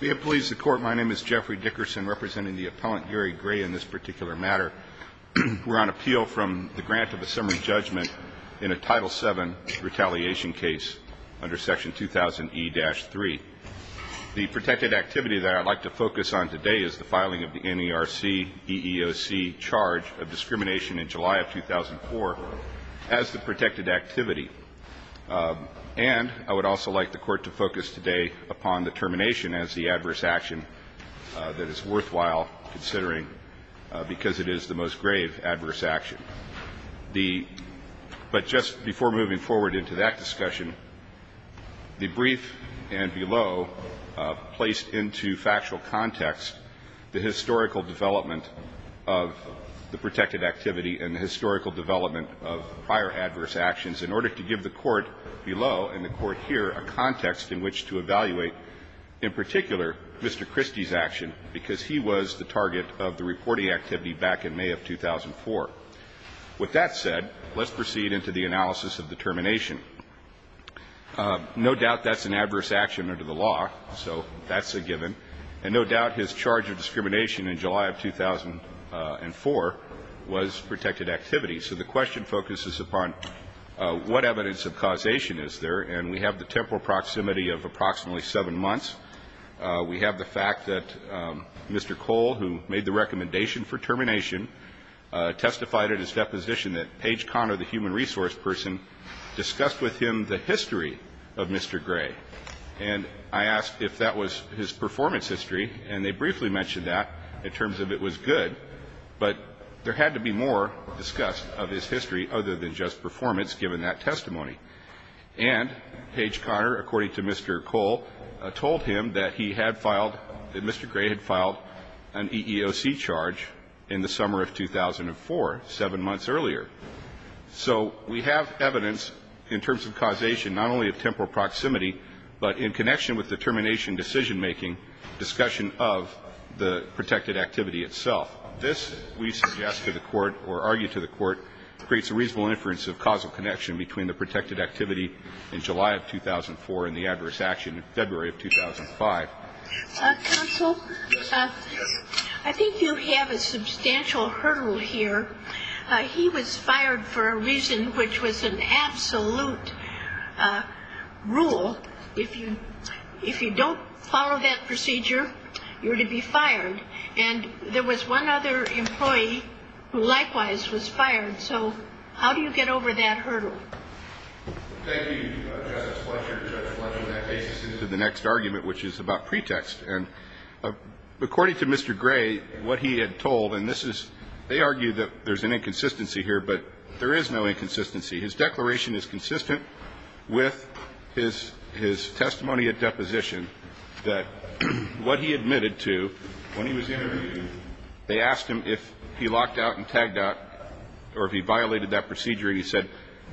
May it please the Court, my name is Jeffrey Dickerson, representing the appellant, Gary Gray, in this particular matter. We're on appeal from the grant of a summary judgment in a Title VII retaliation case under Section 2000E-3. The protected activity that I'd like to focus on today is the filing of the NERC EEOC charge of discrimination in July of 2004 as the protected activity. And I would also like the Court to focus today upon the termination as the adverse action that is worthwhile considering because it is the most grave adverse action. The – but just before moving forward into that discussion, the brief and below placed into factual context the historical development of the protected activity and the historical development of prior adverse actions in order to give the Court below and the Court here a context in which to evaluate, in particular, Mr. Christie's action, because he was the target of the reporting activity back in May of 2004. With that said, let's proceed into the analysis of the termination. No doubt that's an adverse action under the law, so that's a given. And no doubt his charge of discrimination in July of 2004 was protected activity. So the question focuses upon what evidence of causation is there, and we have the temporal proximity of approximately 7 months. We have the fact that Mr. Cole, who made the recommendation for termination, testified in his deposition that Paige Conner, the human resource person, discussed with him the history of Mr. Gray. And I asked if that was his performance history, and they briefly mentioned that in terms of it was good, but there had to be more discussed of his history other than just performance, given that testimony. And Paige Conner, according to Mr. Cole, told him that he had filed, that Mr. Gray had filed an EEOC charge in the summer of 2004, 7 months earlier. So we have evidence in terms of causation, not only of temporal proximity, but in connection with the termination decision-making discussion of the protected activity itself. This, we suggest to the Court or argue to the Court, creates a reasonable inference of causal connection between the protected activity in July of 2004 and the adverse action in February of 2005. Counsel, I think you have a substantial hurdle here. He was fired for a reason which was an absolute rule. If you don't follow that procedure, you're to be fired. And there was one other employee who likewise was fired. So how do you get over that hurdle? Thank you, Justice Fletcher. Judge Fletcher, that takes us into the next argument, which is about pretext. And according to Mr. Gray, what he had told, and this is they argue that there's an inconsistency here, but there is no inconsistency. His declaration is consistent with his testimony at deposition that what he admitted to when he was interviewed, they asked him if he locked out and tagged out or if he violated that procedure. And he said,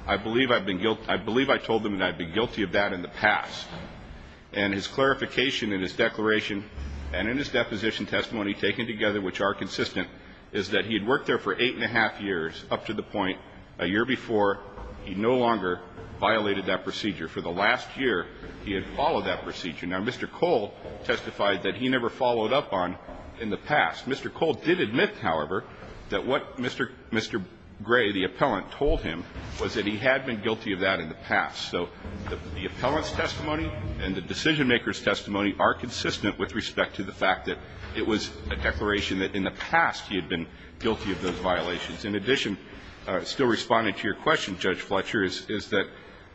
I believe I told them and I've been guilty of that in the past. And his clarification in his declaration and in his deposition testimony taken together, which are consistent, is that he had worked there for eight and a half years up to the point a year before he no longer violated that procedure. For the last year, he had followed that procedure. Now, Mr. Cole testified that he never followed up on in the past. Mr. Cole did admit, however, that what Mr. Gray, the appellant, told him was that he had been guilty of that in the past. So the appellant's testimony and the decisionmaker's testimony are consistent with respect to the fact that it was a declaration that in the past he had been guilty of those violations. In addition, still responding to your question, Judge Fletcher, is that,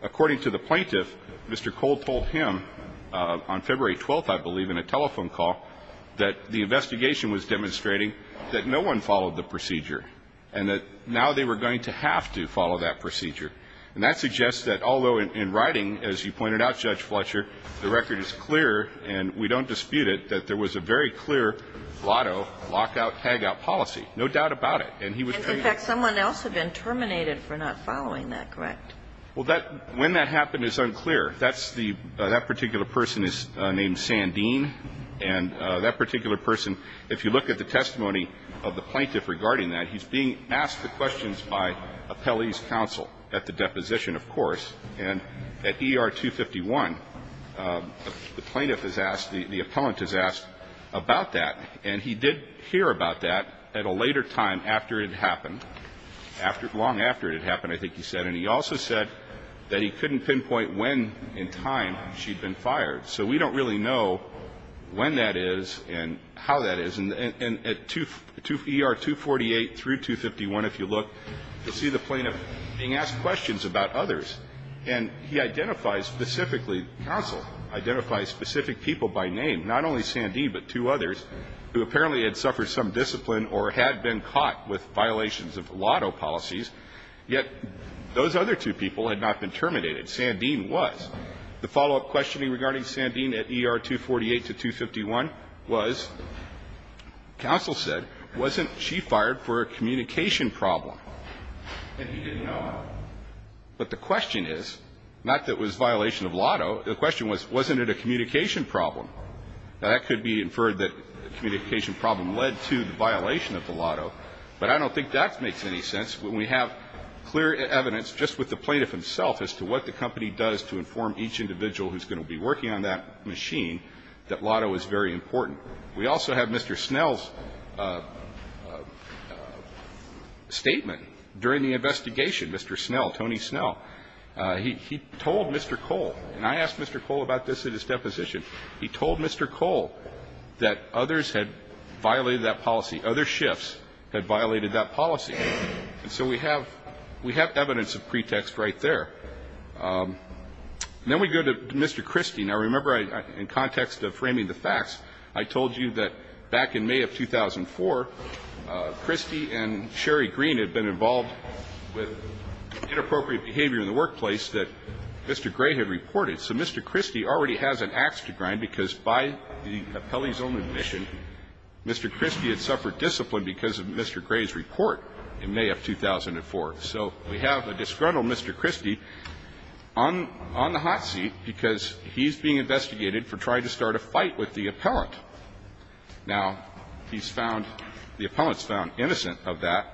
according to the plaintiff, Mr. Cole told him on February 12th, I believe, in a telephone call, that the investigation was demonstrating that no one followed the procedure and that now they were going to have to follow that procedure. And that suggests that, although in writing, as you pointed out, Judge Fletcher, the record is clear and we don't dispute it, that there was a very clear lotto lockout-hagout policy. No doubt about it. And he was treated to that. And, in fact, someone else had been terminated for not following that, correct? Well, that – when that happened is unclear. That's the – that particular person is named Sandeen. And that particular person, if you look at the testimony of the plaintiff regarding that, he's being asked the questions by appellee's counsel at the deposition, of course. And at ER 251, the plaintiff is asked – the appellant is asked about that. And he did hear about that at a later time after it had happened, after – long after it had happened, I think he said. And he also said that he couldn't pinpoint when in time she'd been fired. So we don't really know when that is and how that is. And at ER 248 through 251, if you look, you'll see the plaintiff being asked questions about others. And he identifies specifically – counsel identifies specific people by name, not only Sandeen but two others, who apparently had suffered some discipline or had been caught with violations of lotto policies. Yet those other two people had not been terminated. Sandeen was. The follow-up questioning regarding Sandeen at ER 248 to 251 was, counsel said, wasn't she fired for a communication problem? And he didn't know it. But the question is, not that it was violation of lotto. The question was, wasn't it a communication problem? Now, that could be inferred that a communication problem led to the violation of the lotto. But I don't think that makes any sense when we have clear evidence just with the plaintiff himself as to what the company does to inform each individual who's going to be working on that machine that lotto is very important. We also have Mr. Snell's statement during the investigation. Mr. Snell, Tony Snell, he told Mr. Cole, and I asked Mr. Cole about this at his deposition. He told Mr. Cole that others had violated that policy. The other shifts had violated that policy. And so we have evidence of pretext right there. Then we go to Mr. Christie. Now, remember, in context of framing the facts, I told you that back in May of 2004, Christie and Sherry Green had been involved with inappropriate behavior in the workplace that Mr. Gray had reported. So Mr. Christie already has an ax to grind, because by the appellee's own admission, Mr. Christie had suffered discipline because of Mr. Gray's report in May of 2004. So we have a disgruntled Mr. Christie on the hot seat because he's being investigated for trying to start a fight with the appellant. Now, he's found the appellant's found innocent of that,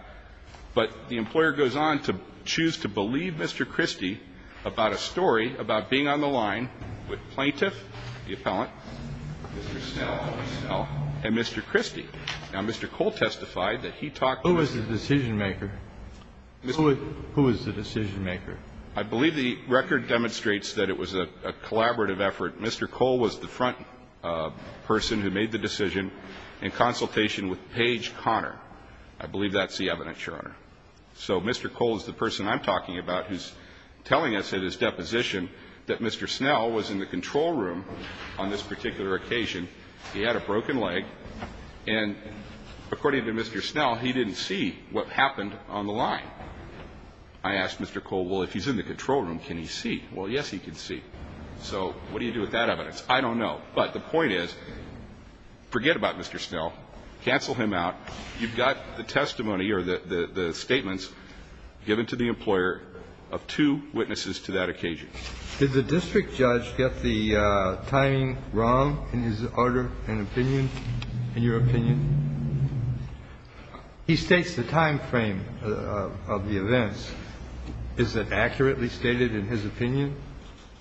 but the employer goes on to choose to believe Mr. Christie about a story about being on the line with plaintiff, the appellant, Mr. Snell, and Mr. Christie. Now, Mr. Cole testified that he talked to Mr. Christie. Kennedy. Who was the decision-maker? Who was the decision-maker? I believe the record demonstrates that it was a collaborative effort. Mr. Cole was the front person who made the decision in consultation with Page Connor. I believe that's the evidence, Your Honor. So Mr. Cole is the person I'm talking about who's telling us in his deposition that Mr. Snell was in the control room on this particular occasion. He had a broken leg, and according to Mr. Snell, he didn't see what happened on the line. I asked Mr. Cole, well, if he's in the control room, can he see? Well, yes, he can see. So what do you do with that evidence? I don't know. But the point is, forget about Mr. Snell. Cancel him out. You've got the testimony or the statements given to the employer of two witnesses to that occasion. Did the district judge get the timing wrong in his order and opinion, in your opinion? He states the time frame of the events. Is it accurately stated in his opinion?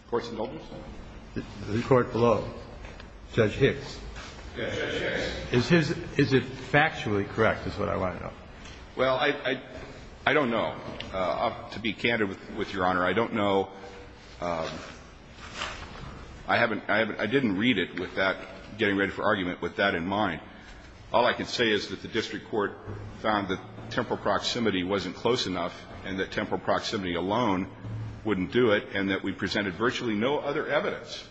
Court's notice? The court below, Judge Hicks. Yes, Judge Hicks. Is his – is it factually correct is what I want to know. Well, I don't know. To be candid with Your Honor, I don't know. I haven't – I didn't read it with that, getting ready for argument, with that in mind. All I can say is that the district court found that temporal proximity wasn't close enough and that temporal proximity alone wouldn't do it, and that we presented virtually no other evidence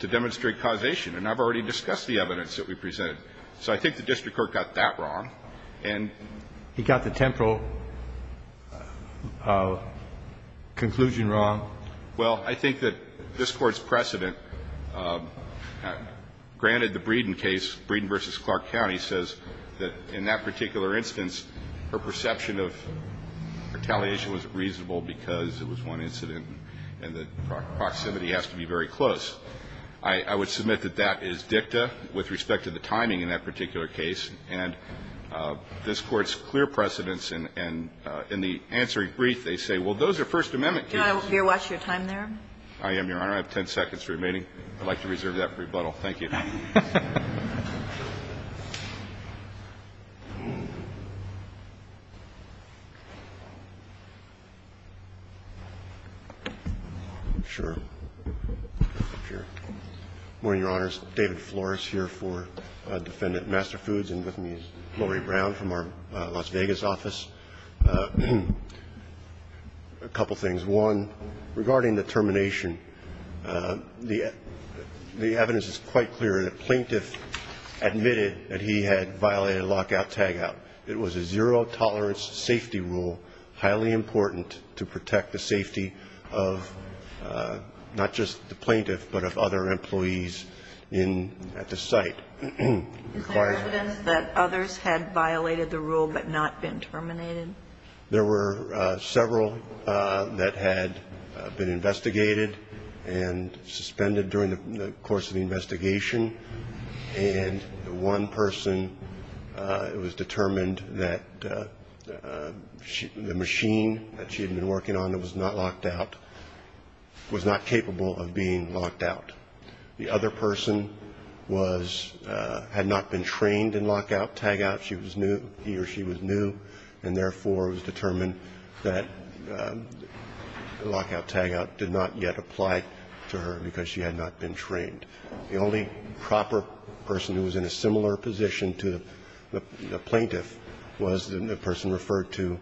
to demonstrate causation. And I've already discussed the evidence that we presented. So I think the district court got that wrong. And he got the temporal conclusion wrong. Well, I think that this Court's precedent, granted the Breeden case, Breeden v. Clark County, says that in that particular instance, her perception of retaliation was reasonable because it was one incident and the proximity has to be very close. I would submit that that is dicta with respect to the timing in that particular case, and this Court's clear precedence in the answering brief, they say, well, those are First Amendment cases. Can I rewatch your time there? I am, Your Honor. I have 10 seconds remaining. I'd like to reserve that for rebuttal. Thank you. Sure. Good morning, Your Honors. David Flores here for Defendant Master Foods. And with me is Lori Brown from our Las Vegas office. A couple things. One, regarding the termination, the evidence is quite clear that the plaintiff admitted that he had violated a lockout-tagout. It was a zero-tolerance safety rule, highly important to protect the safety of not just the plaintiff, but of other employees at the site. Is there evidence that others had violated the rule but not been terminated? There were several that had been investigated and suspended during the course of the investigation. And one person, it was determined that the machine that she had been working on that was not locked out was not capable of being locked out. The other person had not been trained in lockout-tagout. She was new, he or she was new, and therefore it was determined that lockout-tagout did not yet apply to her because she had not been trained. The only proper person who was in a similar position to the plaintiff was the person referred to,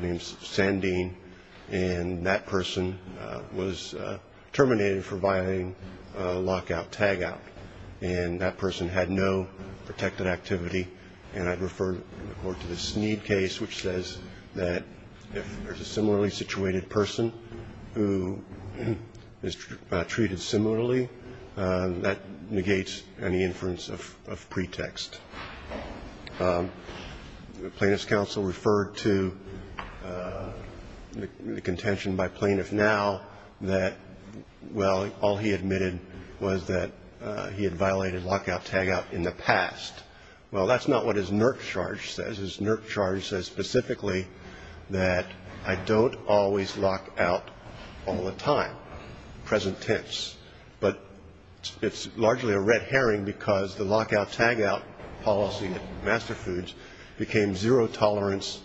named Sandeen, and that person was terminated for violating lockout-tagout. And that person had no protected activity. And I'd refer the Court to the Sneed case, which says that if there's a similarly situated person who is treated similarly, that negates any inference of pretext. The plaintiff's counsel referred to the contention by plaintiff now that, well, all he admitted was that he had violated lockout-tagout in the past. Well, that's not what his NERC charge says. His NERC charge says specifically that I don't always lock out all the time, present tense. But it's largely a red herring because the lockout-tagout policy at Master Foods became zero tolerance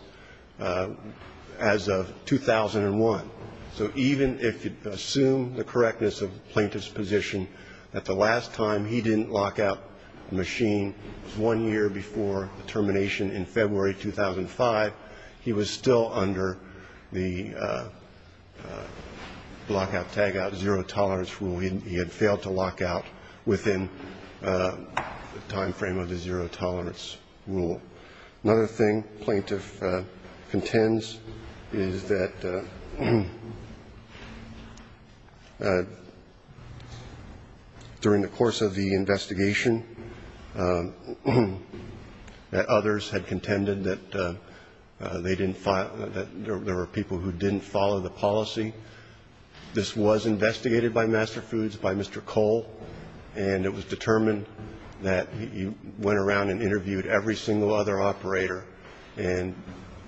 as of 2001. So even if you assume the correctness of the plaintiff's position that the last time he didn't lock out a machine was one year before the termination in February 2005, he was still under the lockout-tagout zero tolerance rule. He had failed to lock out within the time frame of the zero tolerance rule. Another thing plaintiff contends is that during the course of the investigation that others had contended that they didn't follow, that there were people who didn't follow the policy. This was investigated by Master Foods by Mr. Cole, and it was determined that he went around and interviewed every single other operator, and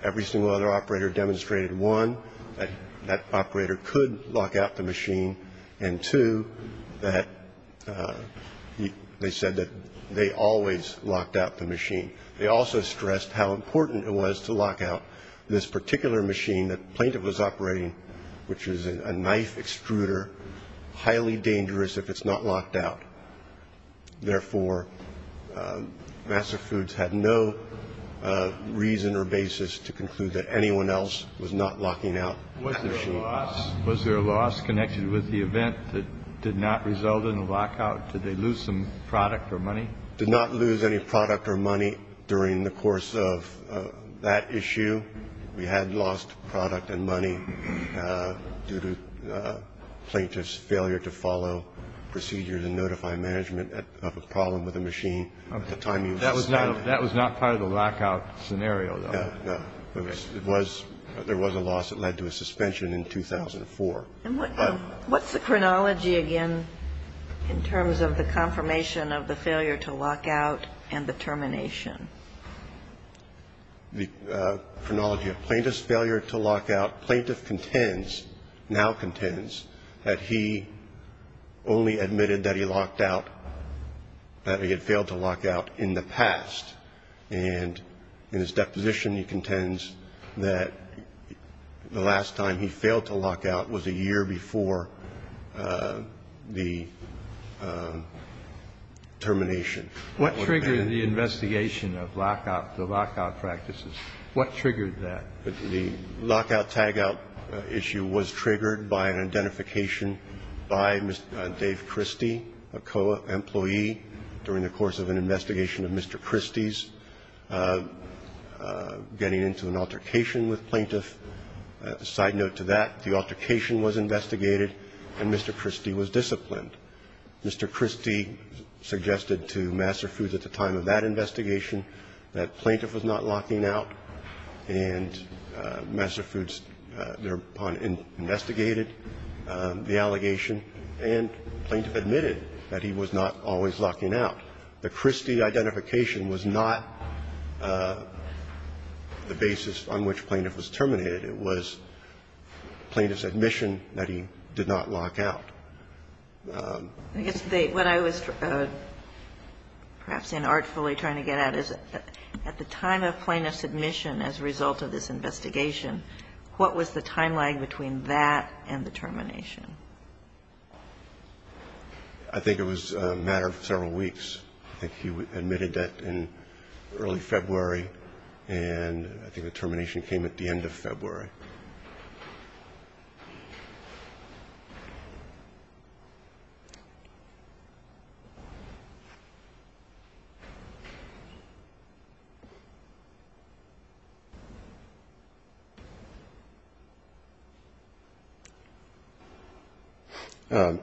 every single other operator demonstrated, one, that that operator could lock out the machine, and, two, that they said that they always locked out the machine. They also stressed how important it was to lock out this particular machine that the plaintiff was operating, which was a knife extruder, highly dangerous if it's not locked out. Therefore, Master Foods had no reason or basis to conclude that anyone else was not locking out the machine. Was there a loss? Was there a loss connected with the event that did not result in a lockout? Did they lose some product or money? Did not lose any product or money during the course of that issue. We had lost product and money due to plaintiff's failure to follow procedures and notify management of a problem with a machine at the time he was assigned. That was not part of the lockout scenario, though. No. There was a loss that led to a suspension in 2004. And what's the chronology again in terms of the confirmation of the failure to lock out and the termination? The chronology of plaintiff's failure to lock out. Plaintiff contends, now contends, that he only admitted that he locked out, that he had failed to lock out in the past. And in his deposition, he contends that the last time he failed to lock out was a year before the termination. What triggered the investigation of lockout, the lockout practices? What triggered that? The lockout-tagout issue was triggered by an identification by Dave Christie, a co-employee during the course of an investigation of Mr. Christie's getting into an altercation with plaintiff. A side note to that, the altercation was investigated and Mr. Christie was disciplined. Mr. Christie suggested to Master Foods at the time of that investigation that plaintiff was not locking out. And Master Foods, thereupon, investigated the allegation and plaintiff admitted that he was not always locking out. The Christie identification was not the basis on which plaintiff was terminated. It was plaintiff's admission that he did not lock out. I guess what I was perhaps inartfully trying to get at is at the time of plaintiff's admission as a result of this investigation, what was the time lag between that and the termination? I think it was a matter of several weeks. I think he admitted that in early February, and I think the termination came at the end of February.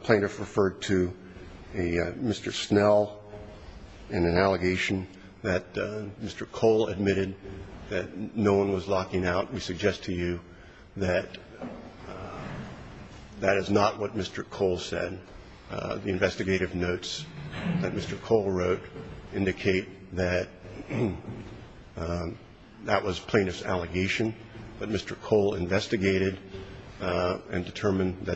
Plaintiff referred to Mr. Snell in an allegation that Mr. Cole admitted that no one was locking out. We suggest to you that that is not what Mr. Cole said. The investigative notes that Mr. Cole wrote indicate that that was plaintiff's allegation. But Mr. Cole investigated and determined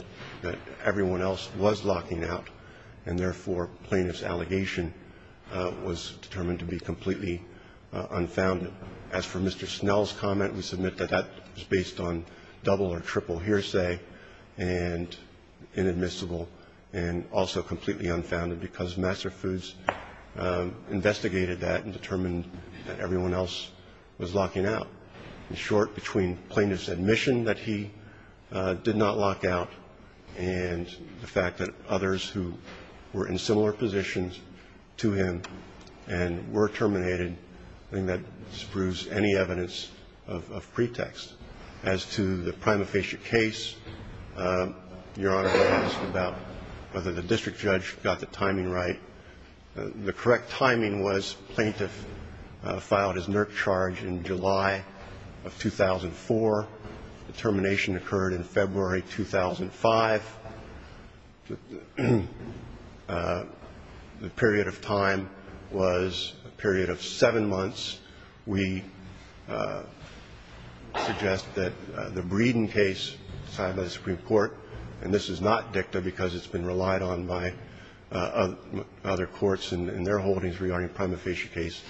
that everyone else was locking out, and therefore plaintiff's allegation was determined to be completely unfounded. As for Mr. Snell's comment, we submit that that was based on double or triple hearsay and inadmissible and also completely unfounded because Master Foods investigated that and determined that everyone else was locking out. In short, between plaintiff's admission that he did not lock out and the fact that others who were in similar positions to him and were terminated, I think that disproves any evidence of pretext. As to the prima facie case, Your Honor asked about whether the district judge got the timing right. The correct timing was plaintiff filed his NERC charge in July of 2004. The termination occurred in February 2005. The period of time was a period of seven months. We suggest that the Breeden case signed by the Supreme Court, and this is not dicta because it's been relied on by other courts in their holdings regarding the prima facie case,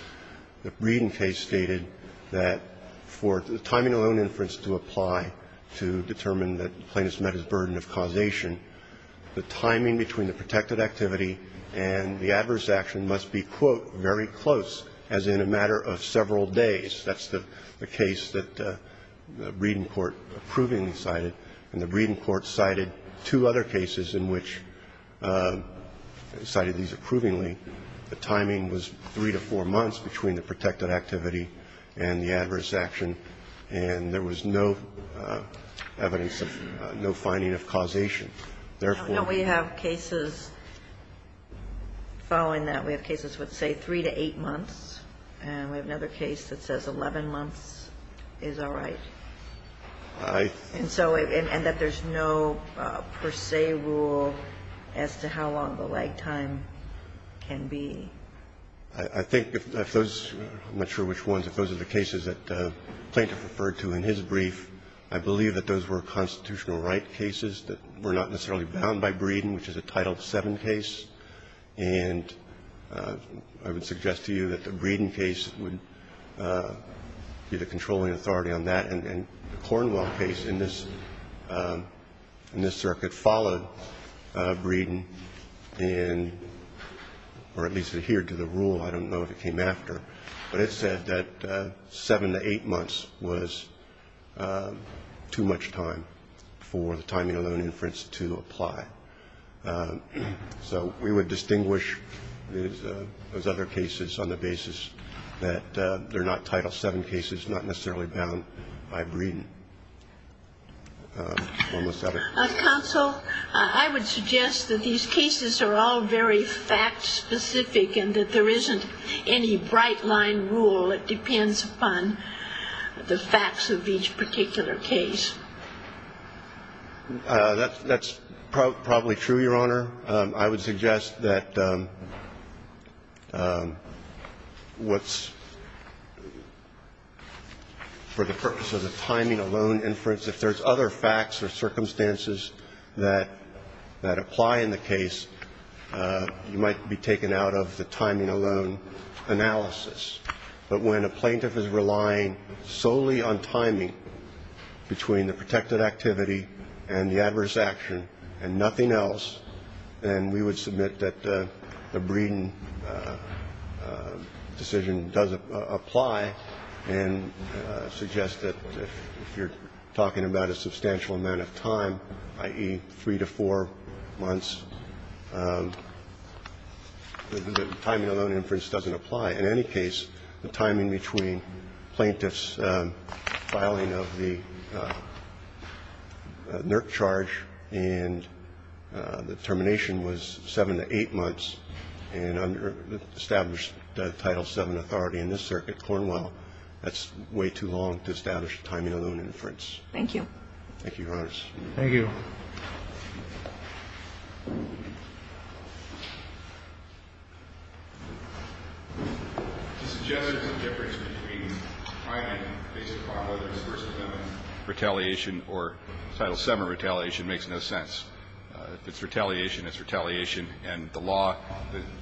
the Breeden case stated that for the timing of loan inference to apply to determine that plaintiff's met his burden of causation, the timing between the protected activity and the adverse action must be, quote, very close, as in a matter of several days. That's the case that the Breeden court approvingly cited. And the Breeden court cited two other cases in which it cited these approvingly. The timing was three to four months between the protected activity and the adverse action, and there was no evidence of no finding of causation. Therefore we have cases following that. We have cases with, say, three to eight months. And we have another case that says 11 months is all right. And so and that there's no per se rule as to how long the lag time can be. I think if those, I'm not sure which ones, if those are the cases that the plaintiff referred to in his brief, I believe that those were constitutional right cases that were not necessarily bound by Breeden, which is a Title VII case. And I would suggest to you that the Breeden case would be the controlling authority on that, and the Cornwall case in this circuit followed Breeden in, or at least adhered to the rule. I don't know if it came after. But it said that seven to eight months was too much time for the timing of loan inference to apply. So we would distinguish those other cases on the basis that they're not Title VII cases, not necessarily bound by Breeden. Counsel, I would suggest that these cases are all very fact-specific and that there isn't any bright-line rule. It depends upon the facts of each particular case. That's probably true, Your Honor. I would suggest that what's, for the purpose of the timing of loan inference, if there's other facts or circumstances that apply in the case, you might be taken out of the timing of loan analysis. But when a plaintiff is relying solely on timing between the protected activity and the adverse action and nothing else, then we would submit that the Breeden decision does apply and suggest that if you're talking about a substantial amount of time, i.e., three to four months, the timing of loan inference doesn't apply. In any case, the timing between plaintiffs' filing of the loan inference and the NERC charge and the termination was seven to eight months, and under established Title VII authority in this circuit, Cornwell, that's way too long to establish timing of loan inference. Thank you. Thank you, Your Honors. Thank you. To suggest there's a difference between timing based upon whether it's versus them and retaliation or Title VII retaliation makes no sense. If it's retaliation, it's retaliation. And the law,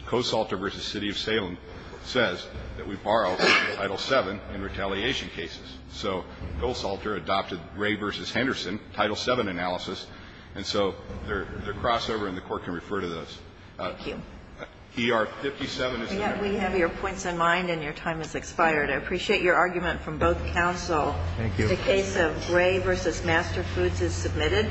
Coe-Salter v. City of Salem says that we borrow Title VII in retaliation cases. So Coe-Salter adopted Ray v. Henderson, Title VII analysis, and so their crossover and the Court can refer to those. Thank you. E.R. 57 is there. We have your points in mind and your time has expired. I appreciate your argument from both counsel. Thank you. The case of Ray v. Master Foods is submitted.